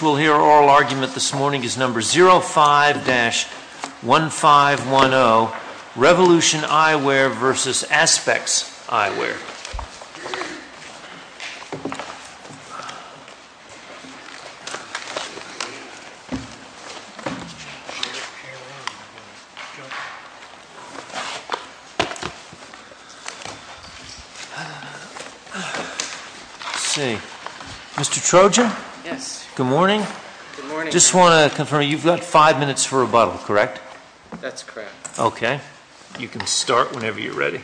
We'll hear oral argument this morning is number 05-1510, Revolution Eyewear v. Aspex Eyewear. Let's see. Mr. Trojan? Yes. Good morning. Good morning. Just want to confirm you've got five minutes for rebuttal, correct? That's correct. Okay. You can start whenever you're ready.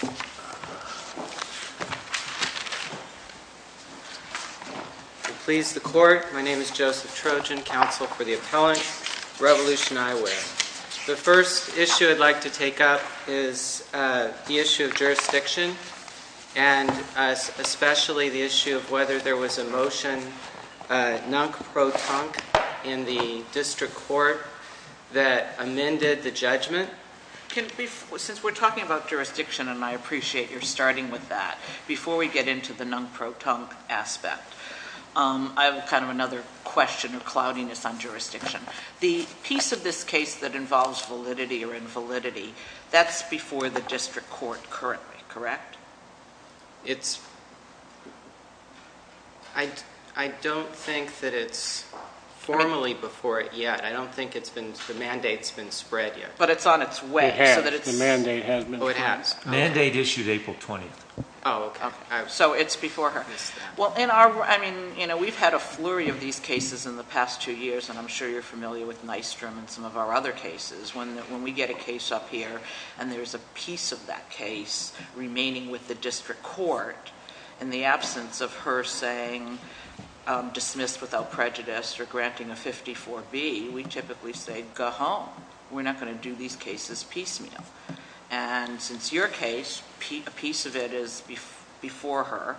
Thank you. Please the court. My name is Joseph Trojan, counsel for the appellant, Revolution Eyewear. The first issue I'd like to take up is the issue of jurisdiction and especially the issue of whether there was a motion non-pro-tunk in the district court that amended the judgment. Since we're talking about jurisdiction and I appreciate you're starting with that, before we get into the non-pro-tunk aspect, I have kind of another question or cloudiness on jurisdiction. The piece of this case that involves validity or invalidity, that's before the district court currently, correct? I don't think that it's formally before it yet. I don't think the mandate's been spread yet. But it's on its way. It has. The mandate has been spread. Oh, it has. The mandate issued April 20th. Oh, okay. So it's before her. We've had a flurry of these cases in the past two years and I'm sure you're familiar with Nystrom and some of our other cases. When we get a case up here and there's a piece of that case remaining with the district court in the absence of her saying dismissed without prejudice or granting a 54B, we typically say go home. We're not going to do these cases piecemeal. And since your case, a piece of it is before her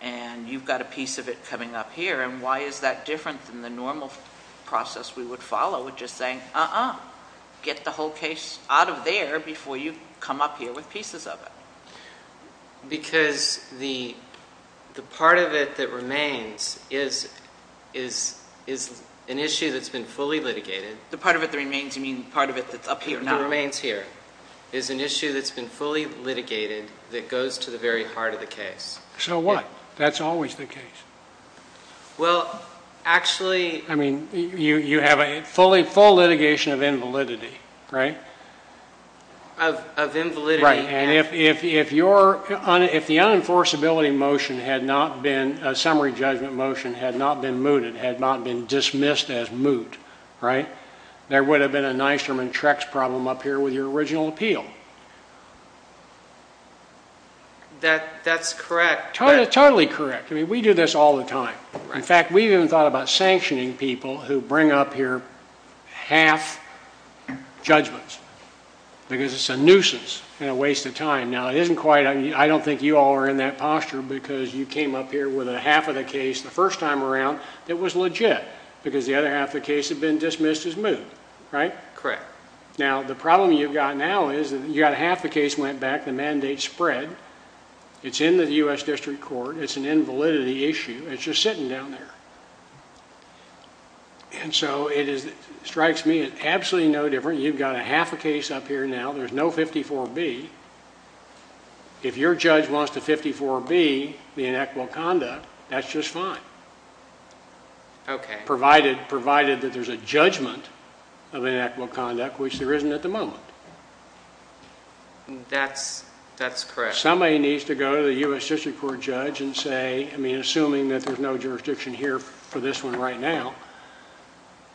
and you've got a piece of it coming up here and why is that different than the normal process we would follow with just saying uh-uh. Get the whole case out of there before you come up here with pieces of it. Because the part of it that remains is an issue that's been fully litigated. The part of it that remains, you mean the part of it that's up here now? It remains here. It's an issue that's been fully litigated that goes to the very heart of the case. So what? That's always the case. Well, actually... I mean, you have a full litigation of invalidity, right? Of invalidity. Right. And if the unenforceability motion had not been, a summary judgment motion had not been mooted, had not been dismissed as moot, right, there would have been a Nystrom and Trex problem up here with your original appeal. That's correct. Totally correct. I mean, we do this all the time. In fact, we've even thought about sanctioning people who bring up here half judgments because it's a nuisance and a waste of time. Now, it isn't quite, I don't think you all are in that posture because you came up here with a half of the case the first time around that was legit because the other half of the case had been dismissed as moot, right? Correct. Now, the problem you've got now is that you've got half the case went back, the mandate spread, it's in the U.S. District Court, it's an invalidity issue, it's just sitting down there. And so it strikes me as absolutely no different. You've got a half a case up here now, there's no 54B. If your judge wants the 54B, the inequitable conduct, that's just fine. Okay. Provided that there's a judgment of inequitable conduct, which there isn't at the moment. That's correct. Somebody needs to go to the U.S. District Court judge and say, I mean, assuming that there's no jurisdiction here for this one right now,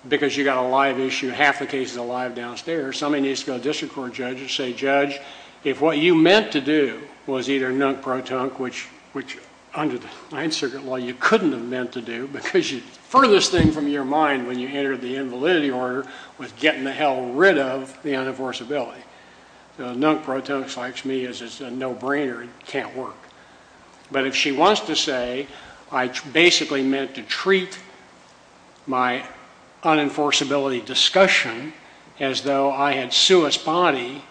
because you've got a live issue, half the case is alive downstairs, somebody needs to go to the District Court judge and say, judge, if what you meant to do was either nunk-pro-tunk, which under the Ninth Circuit Law you couldn't have meant to do, because the furthest thing from your mind when you entered the invalidity order was getting the hell rid of the unenforceability. Nunk-pro-tunk strikes me as a no-brainer, it can't work. But if she wants to say, I basically meant to treat my unenforceability discussion as though I had suus bodi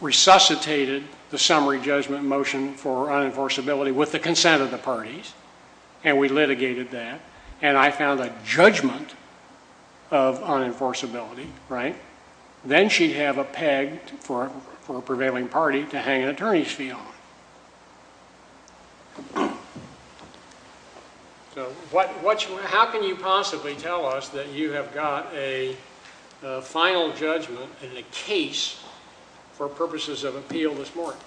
resuscitated the summary judgment motion for unenforceability with the consent of the parties, and we litigated that, and I found a judgment of unenforceability, right? Then she'd have a peg for a prevailing party to hang an attorney's fee on. So how can you possibly tell us that you have got a final judgment in a case for purposes of appeal this morning?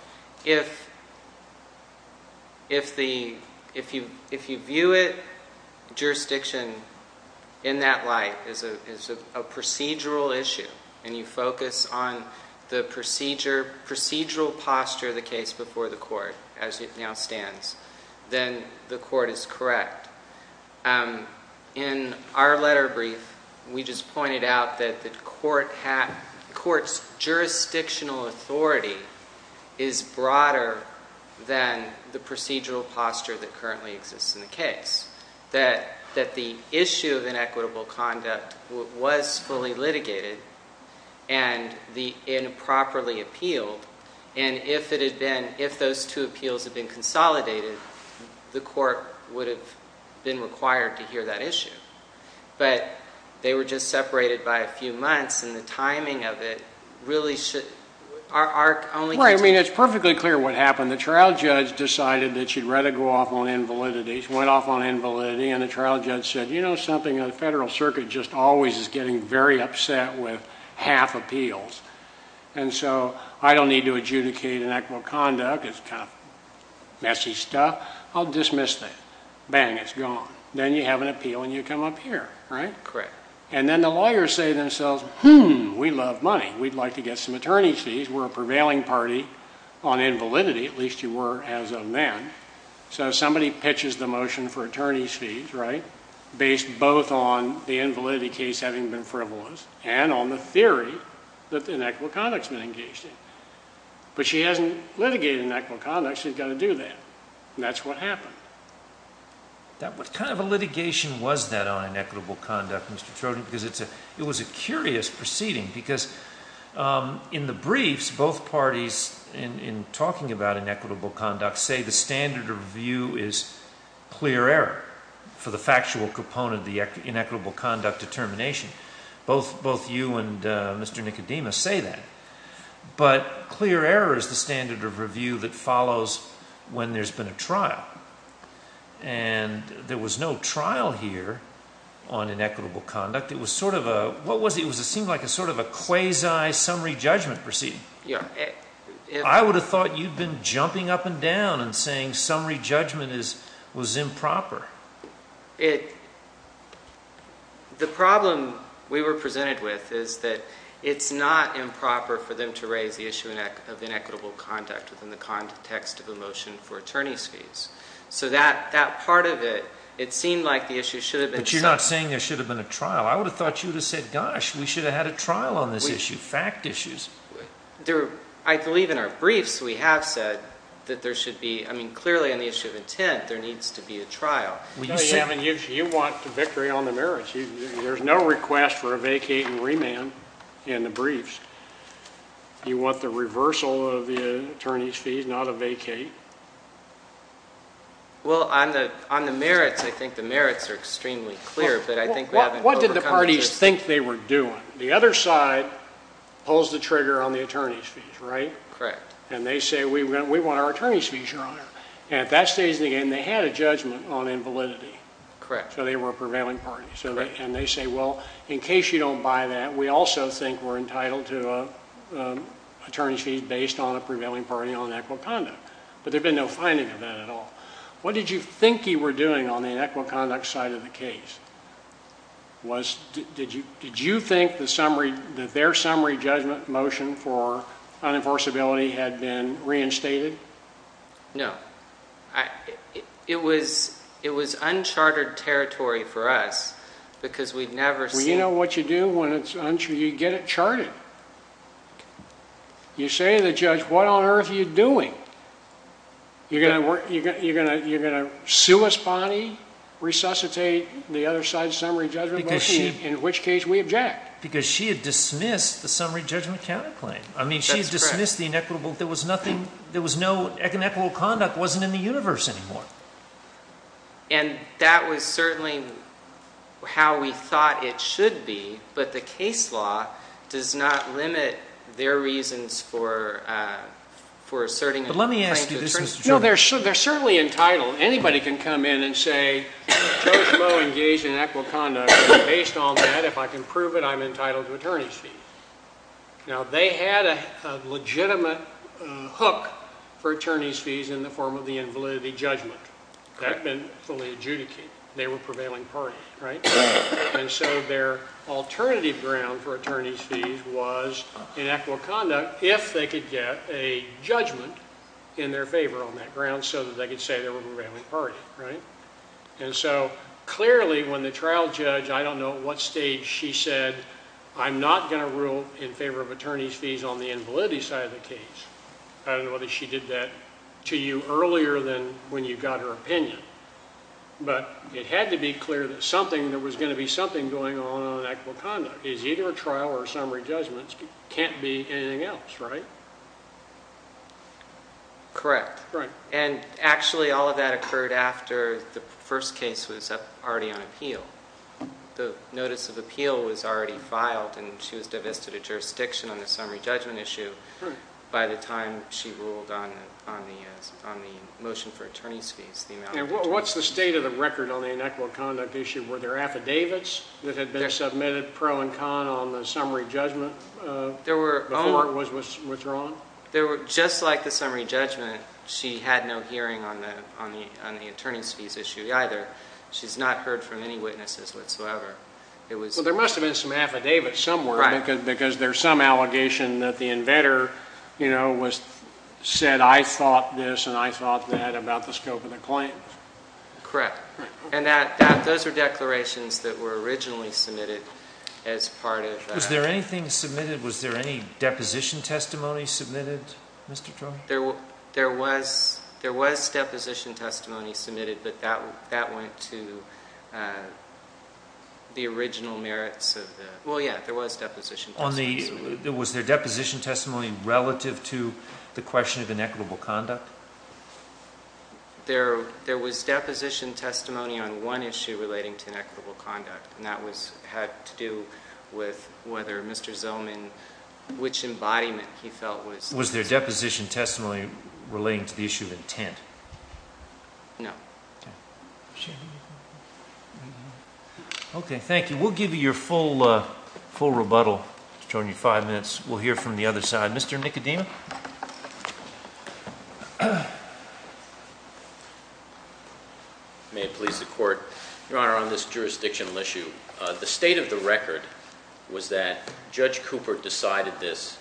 If you view it, jurisdiction in that light is a procedural issue, and you focus on the procedural posture of the case before the court as it now stands, then the court is correct. In our letter brief, we just pointed out that the court's jurisdictional authority is broader than the procedural posture that currently exists in the case. That the issue of inequitable conduct was fully litigated and improperly appealed, and if those two appeals had been consolidated, the court would have been required to hear that issue. But they were just separated by a few months, and the timing of it really should... Well, I mean, it's perfectly clear what happened. The trial judge decided that she'd rather go off on invalidity. She went off on invalidity, and the trial judge said, you know something? The Federal Circuit just always is getting very upset with half appeals, and so I don't need to adjudicate inequitable conduct. It's kind of messy stuff. I'll dismiss that. Bang. It's gone. Then you have an appeal, and you come up here, right? Correct. And then the lawyers say to themselves, hmm, we love money. We'd like to get some attorney's fees. We're a prevailing party on invalidity. At least you were as of then. So somebody pitches the motion for attorney's fees, right, based both on the invalidity case having been frivolous and on the theory that inequitable conduct's been engaged in. But she hasn't litigated inequitable conduct. She's got to do that, and that's what happened. What kind of a litigation was that on inequitable conduct, Mr. Trojan, because it was a curious proceeding, because in the briefs, both parties in talking about inequitable conduct say the standard of review is clear error for the factual component of the inequitable conduct determination. Both you and Mr. Nicodemus say that. But clear error is the standard of review that follows when there's been a trial. And there was no trial here on inequitable conduct. It was sort of a – what was it? It seemed like sort of a quasi-summary judgment proceeding. Yeah. I would have thought you'd been jumping up and down and saying summary judgment was improper. It – the problem we were presented with is that it's not improper for them to raise the issue of inequitable conduct within the context of the motion for attorney's fees. So that part of it, it seemed like the issue should have been – But you're not saying there should have been a trial. I would have thought you would have said, gosh, we should have had a trial on this issue, fact issues. I believe in our briefs we have said that there should be – I mean, clearly on the issue of intent, there needs to be a trial. Yeah, I mean, you want the victory on the merits. There's no request for a vacate and remand in the briefs. You want the reversal of the attorney's fees, not a vacate. Well, on the merits, I think the merits are extremely clear, but I think we haven't overcome this. What did the parties think they were doing? The other side pulls the trigger on the attorney's fees, right? Correct. And they say, we want our attorney's fees, Your Honor. And at that stage in the game, they had a judgment on invalidity. Correct. So they were a prevailing party. Correct. And they say, well, in case you don't buy that, we also think we're entitled to an attorney's fees based on a prevailing party on inequitable conduct. But there had been no finding of that at all. What did you think you were doing on the inequitable conduct side of the case? Did you think that their summary judgment motion for unenforceability had been reinstated? No. It was uncharted territory for us because we'd never seen it. Well, you know what you do when it's uncharted? You get it charted. You say to the judge, what on earth are you doing? You're going to sue us, Bonnie, resuscitate the other side's summary judgment motion, in which case we object. Because she had dismissed the summary judgment counterclaim. I mean, she had dismissed the inequitable. There was no inequitable conduct. It wasn't in the universe anymore. And that was certainly how we thought it should be. But the case law does not limit their reasons for asserting a claim to attorney's fees. No, they're certainly entitled. Anybody can come in and say, Joseph Moe engaged in inequitable conduct. Based on that, if I can prove it, I'm entitled to attorney's fees. Now, they had a legitimate hook for attorney's fees in the form of the invalidity judgment. That had been fully adjudicated. They were prevailing party, right? And so their alternative ground for attorney's fees was inequitable conduct if they could get a judgment in their favor on that ground so that they could say they were a prevailing party, right? And so clearly, when the trial judge, I don't know at what stage she said, I'm not going to rule in favor of attorney's fees on the invalidity side of the case. I don't know whether she did that to you earlier than when you got her opinion. But it had to be clear that something, there was going to be something going on in inequitable conduct. Because either a trial or a summary judgment can't be anything else, right? Correct. And actually, all of that occurred after the first case was already on appeal. The notice of appeal was already filed, and she was divested of jurisdiction on the summary judgment issue by the time she ruled on the motion for attorney's fees. And what's the state of the record on the inequitable conduct issue? Were there affidavits that had been submitted pro and con on the summary judgment before it was withdrawn? Just like the summary judgment, she had no hearing on the attorney's fees issue either. She's not heard from any witnesses whatsoever. Well, there must have been some affidavit somewhere because there's some allegation that the inventor said, I thought this and I thought that about the scope of the claim. Correct. And those are declarations that were originally submitted as part of that. Was there anything submitted? Was there any deposition testimony submitted, Mr. Troy? There was deposition testimony submitted, but that went to the original merits of the – well, yeah, there was deposition testimony submitted. Was there deposition testimony relative to the question of inequitable conduct? There was deposition testimony on one issue relating to inequitable conduct, and that had to do with whether Mr. Zellman – which embodiment he felt was – Was there deposition testimony relating to the issue of intent? No. Okay. Okay, thank you. We'll give you your full rebuttal. It's showing you five minutes. We'll hear from the other side. Mr. Nicodemus? May it please the Court. Your Honor, on this jurisdictional issue, the state of the record was that Judge Cooper decided this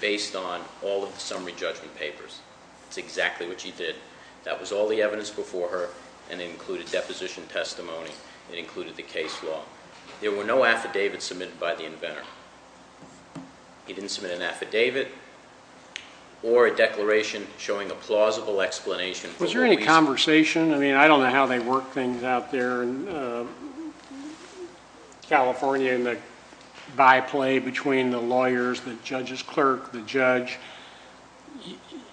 based on all of the summary judgment papers. That's exactly what she did. That was all the evidence before her, and it included deposition testimony. It included the case law. There were no affidavits submitted by the inventor. He didn't submit an affidavit or a declaration showing a plausible explanation. Was there any conversation? I mean, I don't know how they work things out there in California in the byplay between the lawyers, the judge's clerk, the judge.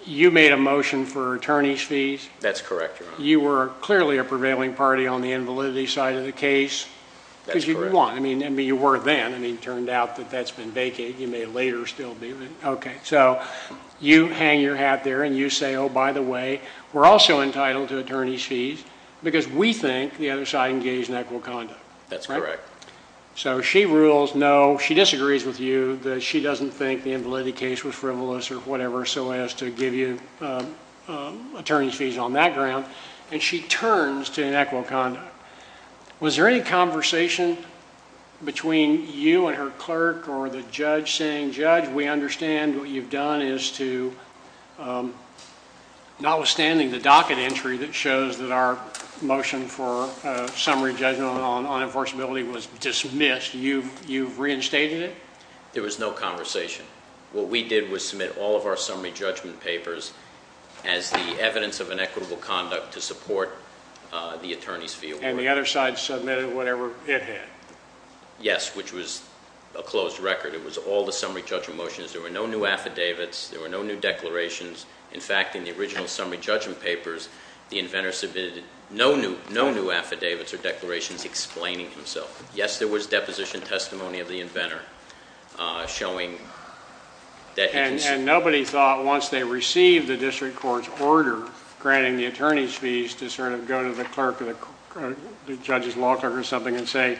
You made a motion for attorney's fees. That's correct, Your Honor. You were clearly a prevailing party on the invalidity side of the case. That's correct. Because you won. I mean, you were then. I mean, it turned out that that's been vacated. You may later still be. Okay. So you hang your hat there, and you say, oh, by the way, we're also entitled to attorney's fees because we think the other side engaged in equitable conduct. That's correct. So she rules no. She disagrees with you that she doesn't think the invalidity case was frivolous or whatever so as to give you attorney's fees on that ground, and she turns to inequitable conduct. Was there any conversation between you and her clerk or the judge saying, judge, we understand what you've done is to, notwithstanding the docket entry that shows that our motion for summary judgment on enforceability was dismissed, you've reinstated it? There was no conversation. What we did was submit all of our summary judgment papers as the evidence of inequitable conduct to support the attorney's fee award. And the other side submitted whatever it had? Yes, which was a closed record. It was all the summary judgment motions. There were no new affidavits. There were no new declarations. In fact, in the original summary judgment papers, the inventor submitted no new affidavits or declarations explaining himself. Yes, there was deposition testimony of the inventor showing that he can— And nobody thought once they received the district court's order granting the attorney's fees to sort of go to the clerk or the judge's law clerk or something and say,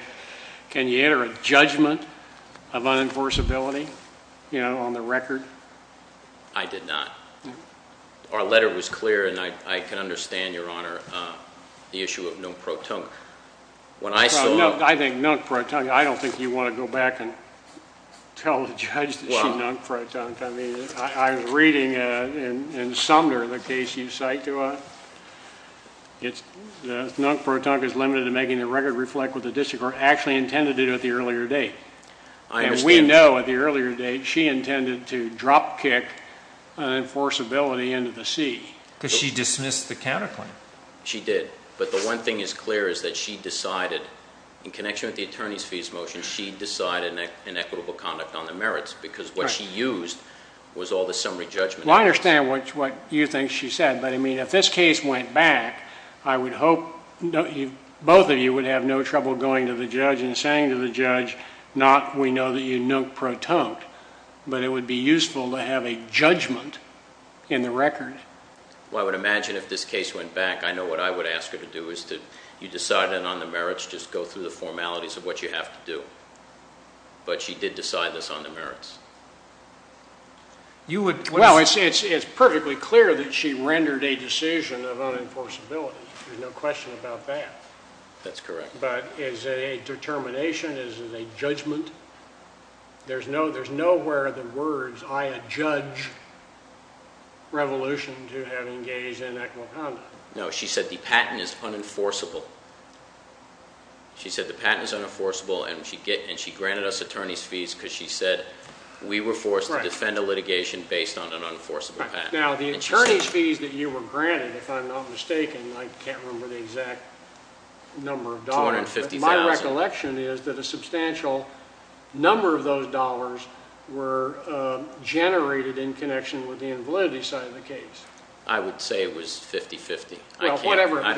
can you enter a judgment of unenforceability, you know, on the record? I did not. Our letter was clear, and I can understand, Your Honor, the issue of no protunque. I think no protunque. I don't think you want to go back and tell the judge that she's no protunque. I mean, I was reading in Sumner the case you cite to us. No protunque is limited to making the record reflect what the district court actually intended to do at the earlier date. I understand. And we know at the earlier date she intended to dropkick unenforceability into the seat. Because she dismissed the counterclaim. She did. But the one thing is clear is that she decided, in connection with the attorney's fees motion, she decided an equitable conduct on the merits because what she used was all the summary judgment. Well, I understand what you think she said. But, I mean, if this case went back, I would hope both of you would have no trouble going to the judge and saying to the judge, not we know that you're no protunque. But it would be useful to have a judgment in the record. Well, I would imagine if this case went back, I know what I would ask her to do is to decide on the merits, just go through the formalities of what you have to do. But she did decide this on the merits. Well, it's perfectly clear that she rendered a decision of unenforceability. There's no question about that. That's correct. But is it a determination? Is it a judgment? There's nowhere the words I adjudge revolution to have engaged in equitable conduct. No, she said the patent is unenforceable. She said the patent is unenforceable, and she granted us attorney's fees because she said we were forced to defend a litigation based on an unenforceable patent. Now, the attorney's fees that you were granted, if I'm not mistaken, I can't remember the exact number of dollars. $250,000. My recollection is that a substantial number of those dollars were generated in connection with the invalidity side of the case. I would say it was 50-50. Well, whatever it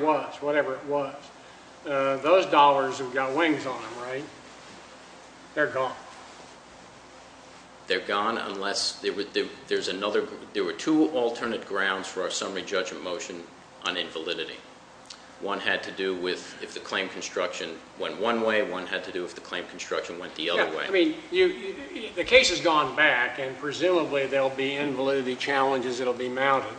was, whatever it was. Those dollars have got wings on them, right? They're gone. They're gone unless there were two alternate grounds for our summary judgment motion on invalidity. One had to do with if the claim construction went one way, one had to do if the claim construction went the other way. Yeah, I mean, the case has gone back, and presumably there will be invalidity challenges that will be mounted.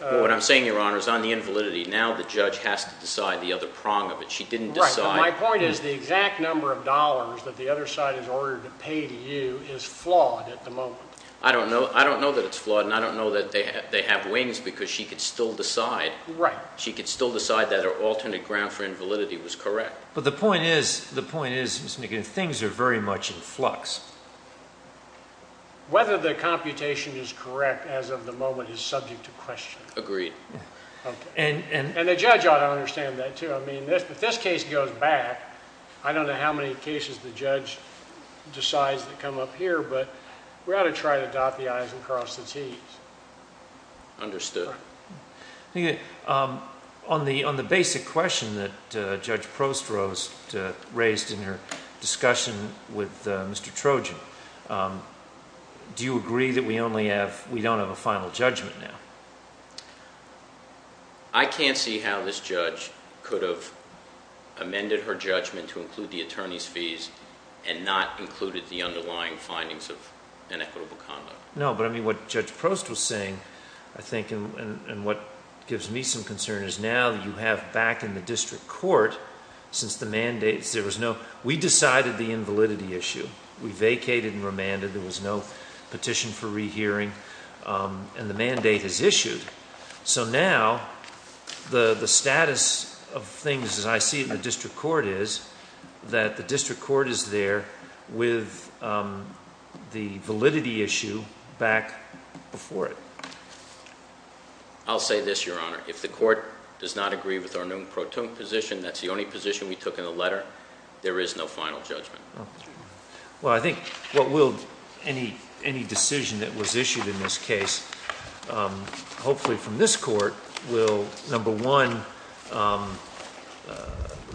What I'm saying, Your Honor, is on the invalidity, now the judge has to decide the other prong of it. She didn't decide. Right, but my point is the exact number of dollars that the other side has ordered to pay to you is flawed at the moment. I don't know that it's flawed, and I don't know that they have wings because she could still decide. Right. She could still decide that her alternate ground for invalidity was correct. But the point is, Mr. McGinn, things are very much in flux. Whether the computation is correct as of the moment is subject to question. Agreed. And the judge ought to understand that, too. I mean, if this case goes back, I don't know how many cases the judge decides that come up here, but we ought to try to dot the i's and cross the t's. On the basic question that Judge Prost raised in her discussion with Mr. Trojan, do you agree that we don't have a final judgment now? I can't see how this judge could have amended her judgment to include the attorney's fees and not included the underlying findings of inequitable conduct. No, but I mean, what Judge Prost was saying, I think, and what gives me some concern is now you have back in the district court, since the mandates, there was no, we decided the invalidity issue. We vacated and remanded. There was no petition for rehearing, and the mandate is issued. So now the status of things, as I see it in the district court, is that the district court is there with the validity issue back before it. I'll say this, Your Honor. If the court does not agree with our noom pro toom position, that's the only position we took in the letter, there is no final judgment. Well, I think what will any decision that was issued in this case, hopefully from this court, will, number one,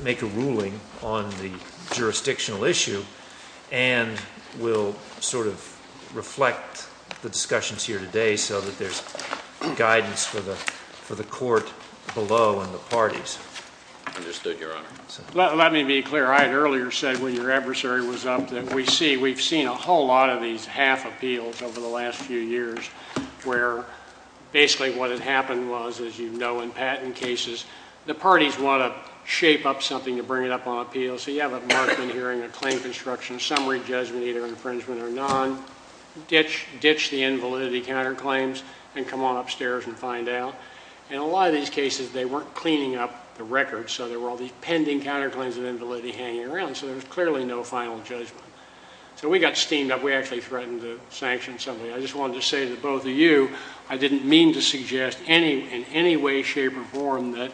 make a ruling on the jurisdictional issue and will sort of reflect the discussions here today so that there's guidance for the court below and the parties. Understood, Your Honor. Let me be clear. I had earlier said when your adversary was up that we see, we've seen a whole lot of these half appeals over the last few years where basically what had happened was, as you know, in patent cases, the parties want to shape up something to bring it up on appeal. So you have a markman hearing, a claim construction, summary judgment, either infringement or non, ditch the invalidity counterclaims and come on upstairs and find out. In a lot of these cases, they weren't cleaning up the records, so there were all these pending counterclaims of invalidity hanging around, so there was clearly no final judgment. So we got steamed up. We actually threatened to sanction somebody. I just wanted to say to both of you I didn't mean to suggest in any way, shape, or form that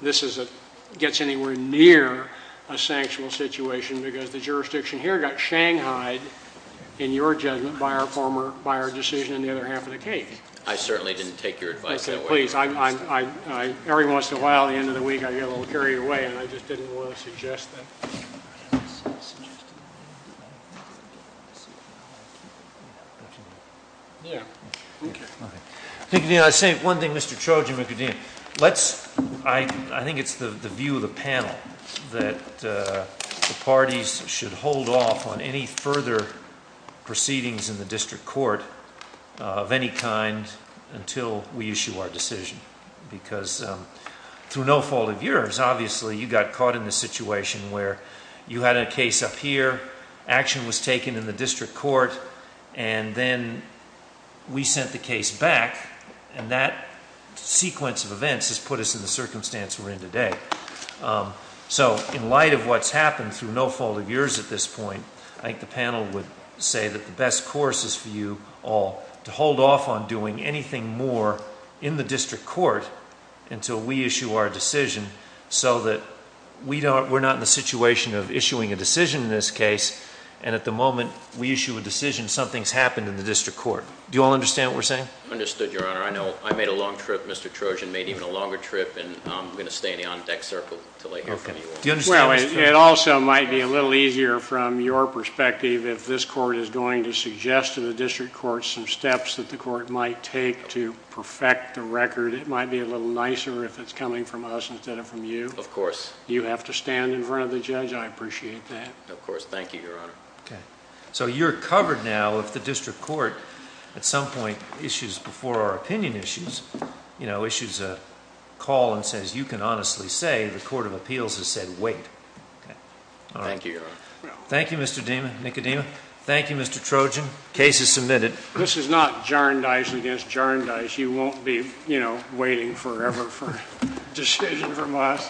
this gets anywhere near a sanctional situation because the jurisdiction here got shanghaied, in your judgment, by our decision in the other half of the case. Every once in a while, at the end of the week, I get a little carried away, and I just didn't want to suggest that. I think it's the view of the panel that the parties should hold off on any further proceedings in the district court of any kind until we issue our decision. Because through no fault of yours, obviously, you got caught in the situation where you had a case up here, action was taken in the district court, and then we sent the case back, and that sequence of events has put us in the circumstance we're in today. So in light of what's happened through no fault of yours at this point, I think the panel would say that the best course is for you all to hold off on doing anything more in the district court until we issue our decision so that we're not in the situation of issuing a decision in this case, and at the moment we issue a decision, something's happened in the district court. Do you all understand what we're saying? I understood, Your Honor. I know I made a long trip, Mr. Trojan made even a longer trip, and I'm going to stay in the on-deck circle until I hear from you all. It also might be a little easier from your perspective if this court is going to suggest to the district court some steps that the court might take to perfect the record. It might be a little nicer if it's coming from us instead of from you. Of course. You have to stand in front of the judge. I appreciate that. Of course. Thank you, Your Honor. So you're covered now if the district court at some point issues before our opinion issues, you know, issues a call and says you can honestly say the court of appeals has said wait. Thank you, Your Honor. Thank you, Mr. Dima, Nick Dima. Thank you, Mr. Trojan. Case is submitted. This is not jar and dice against jar and dice. You won't be, you know, waiting forever for a decision from us.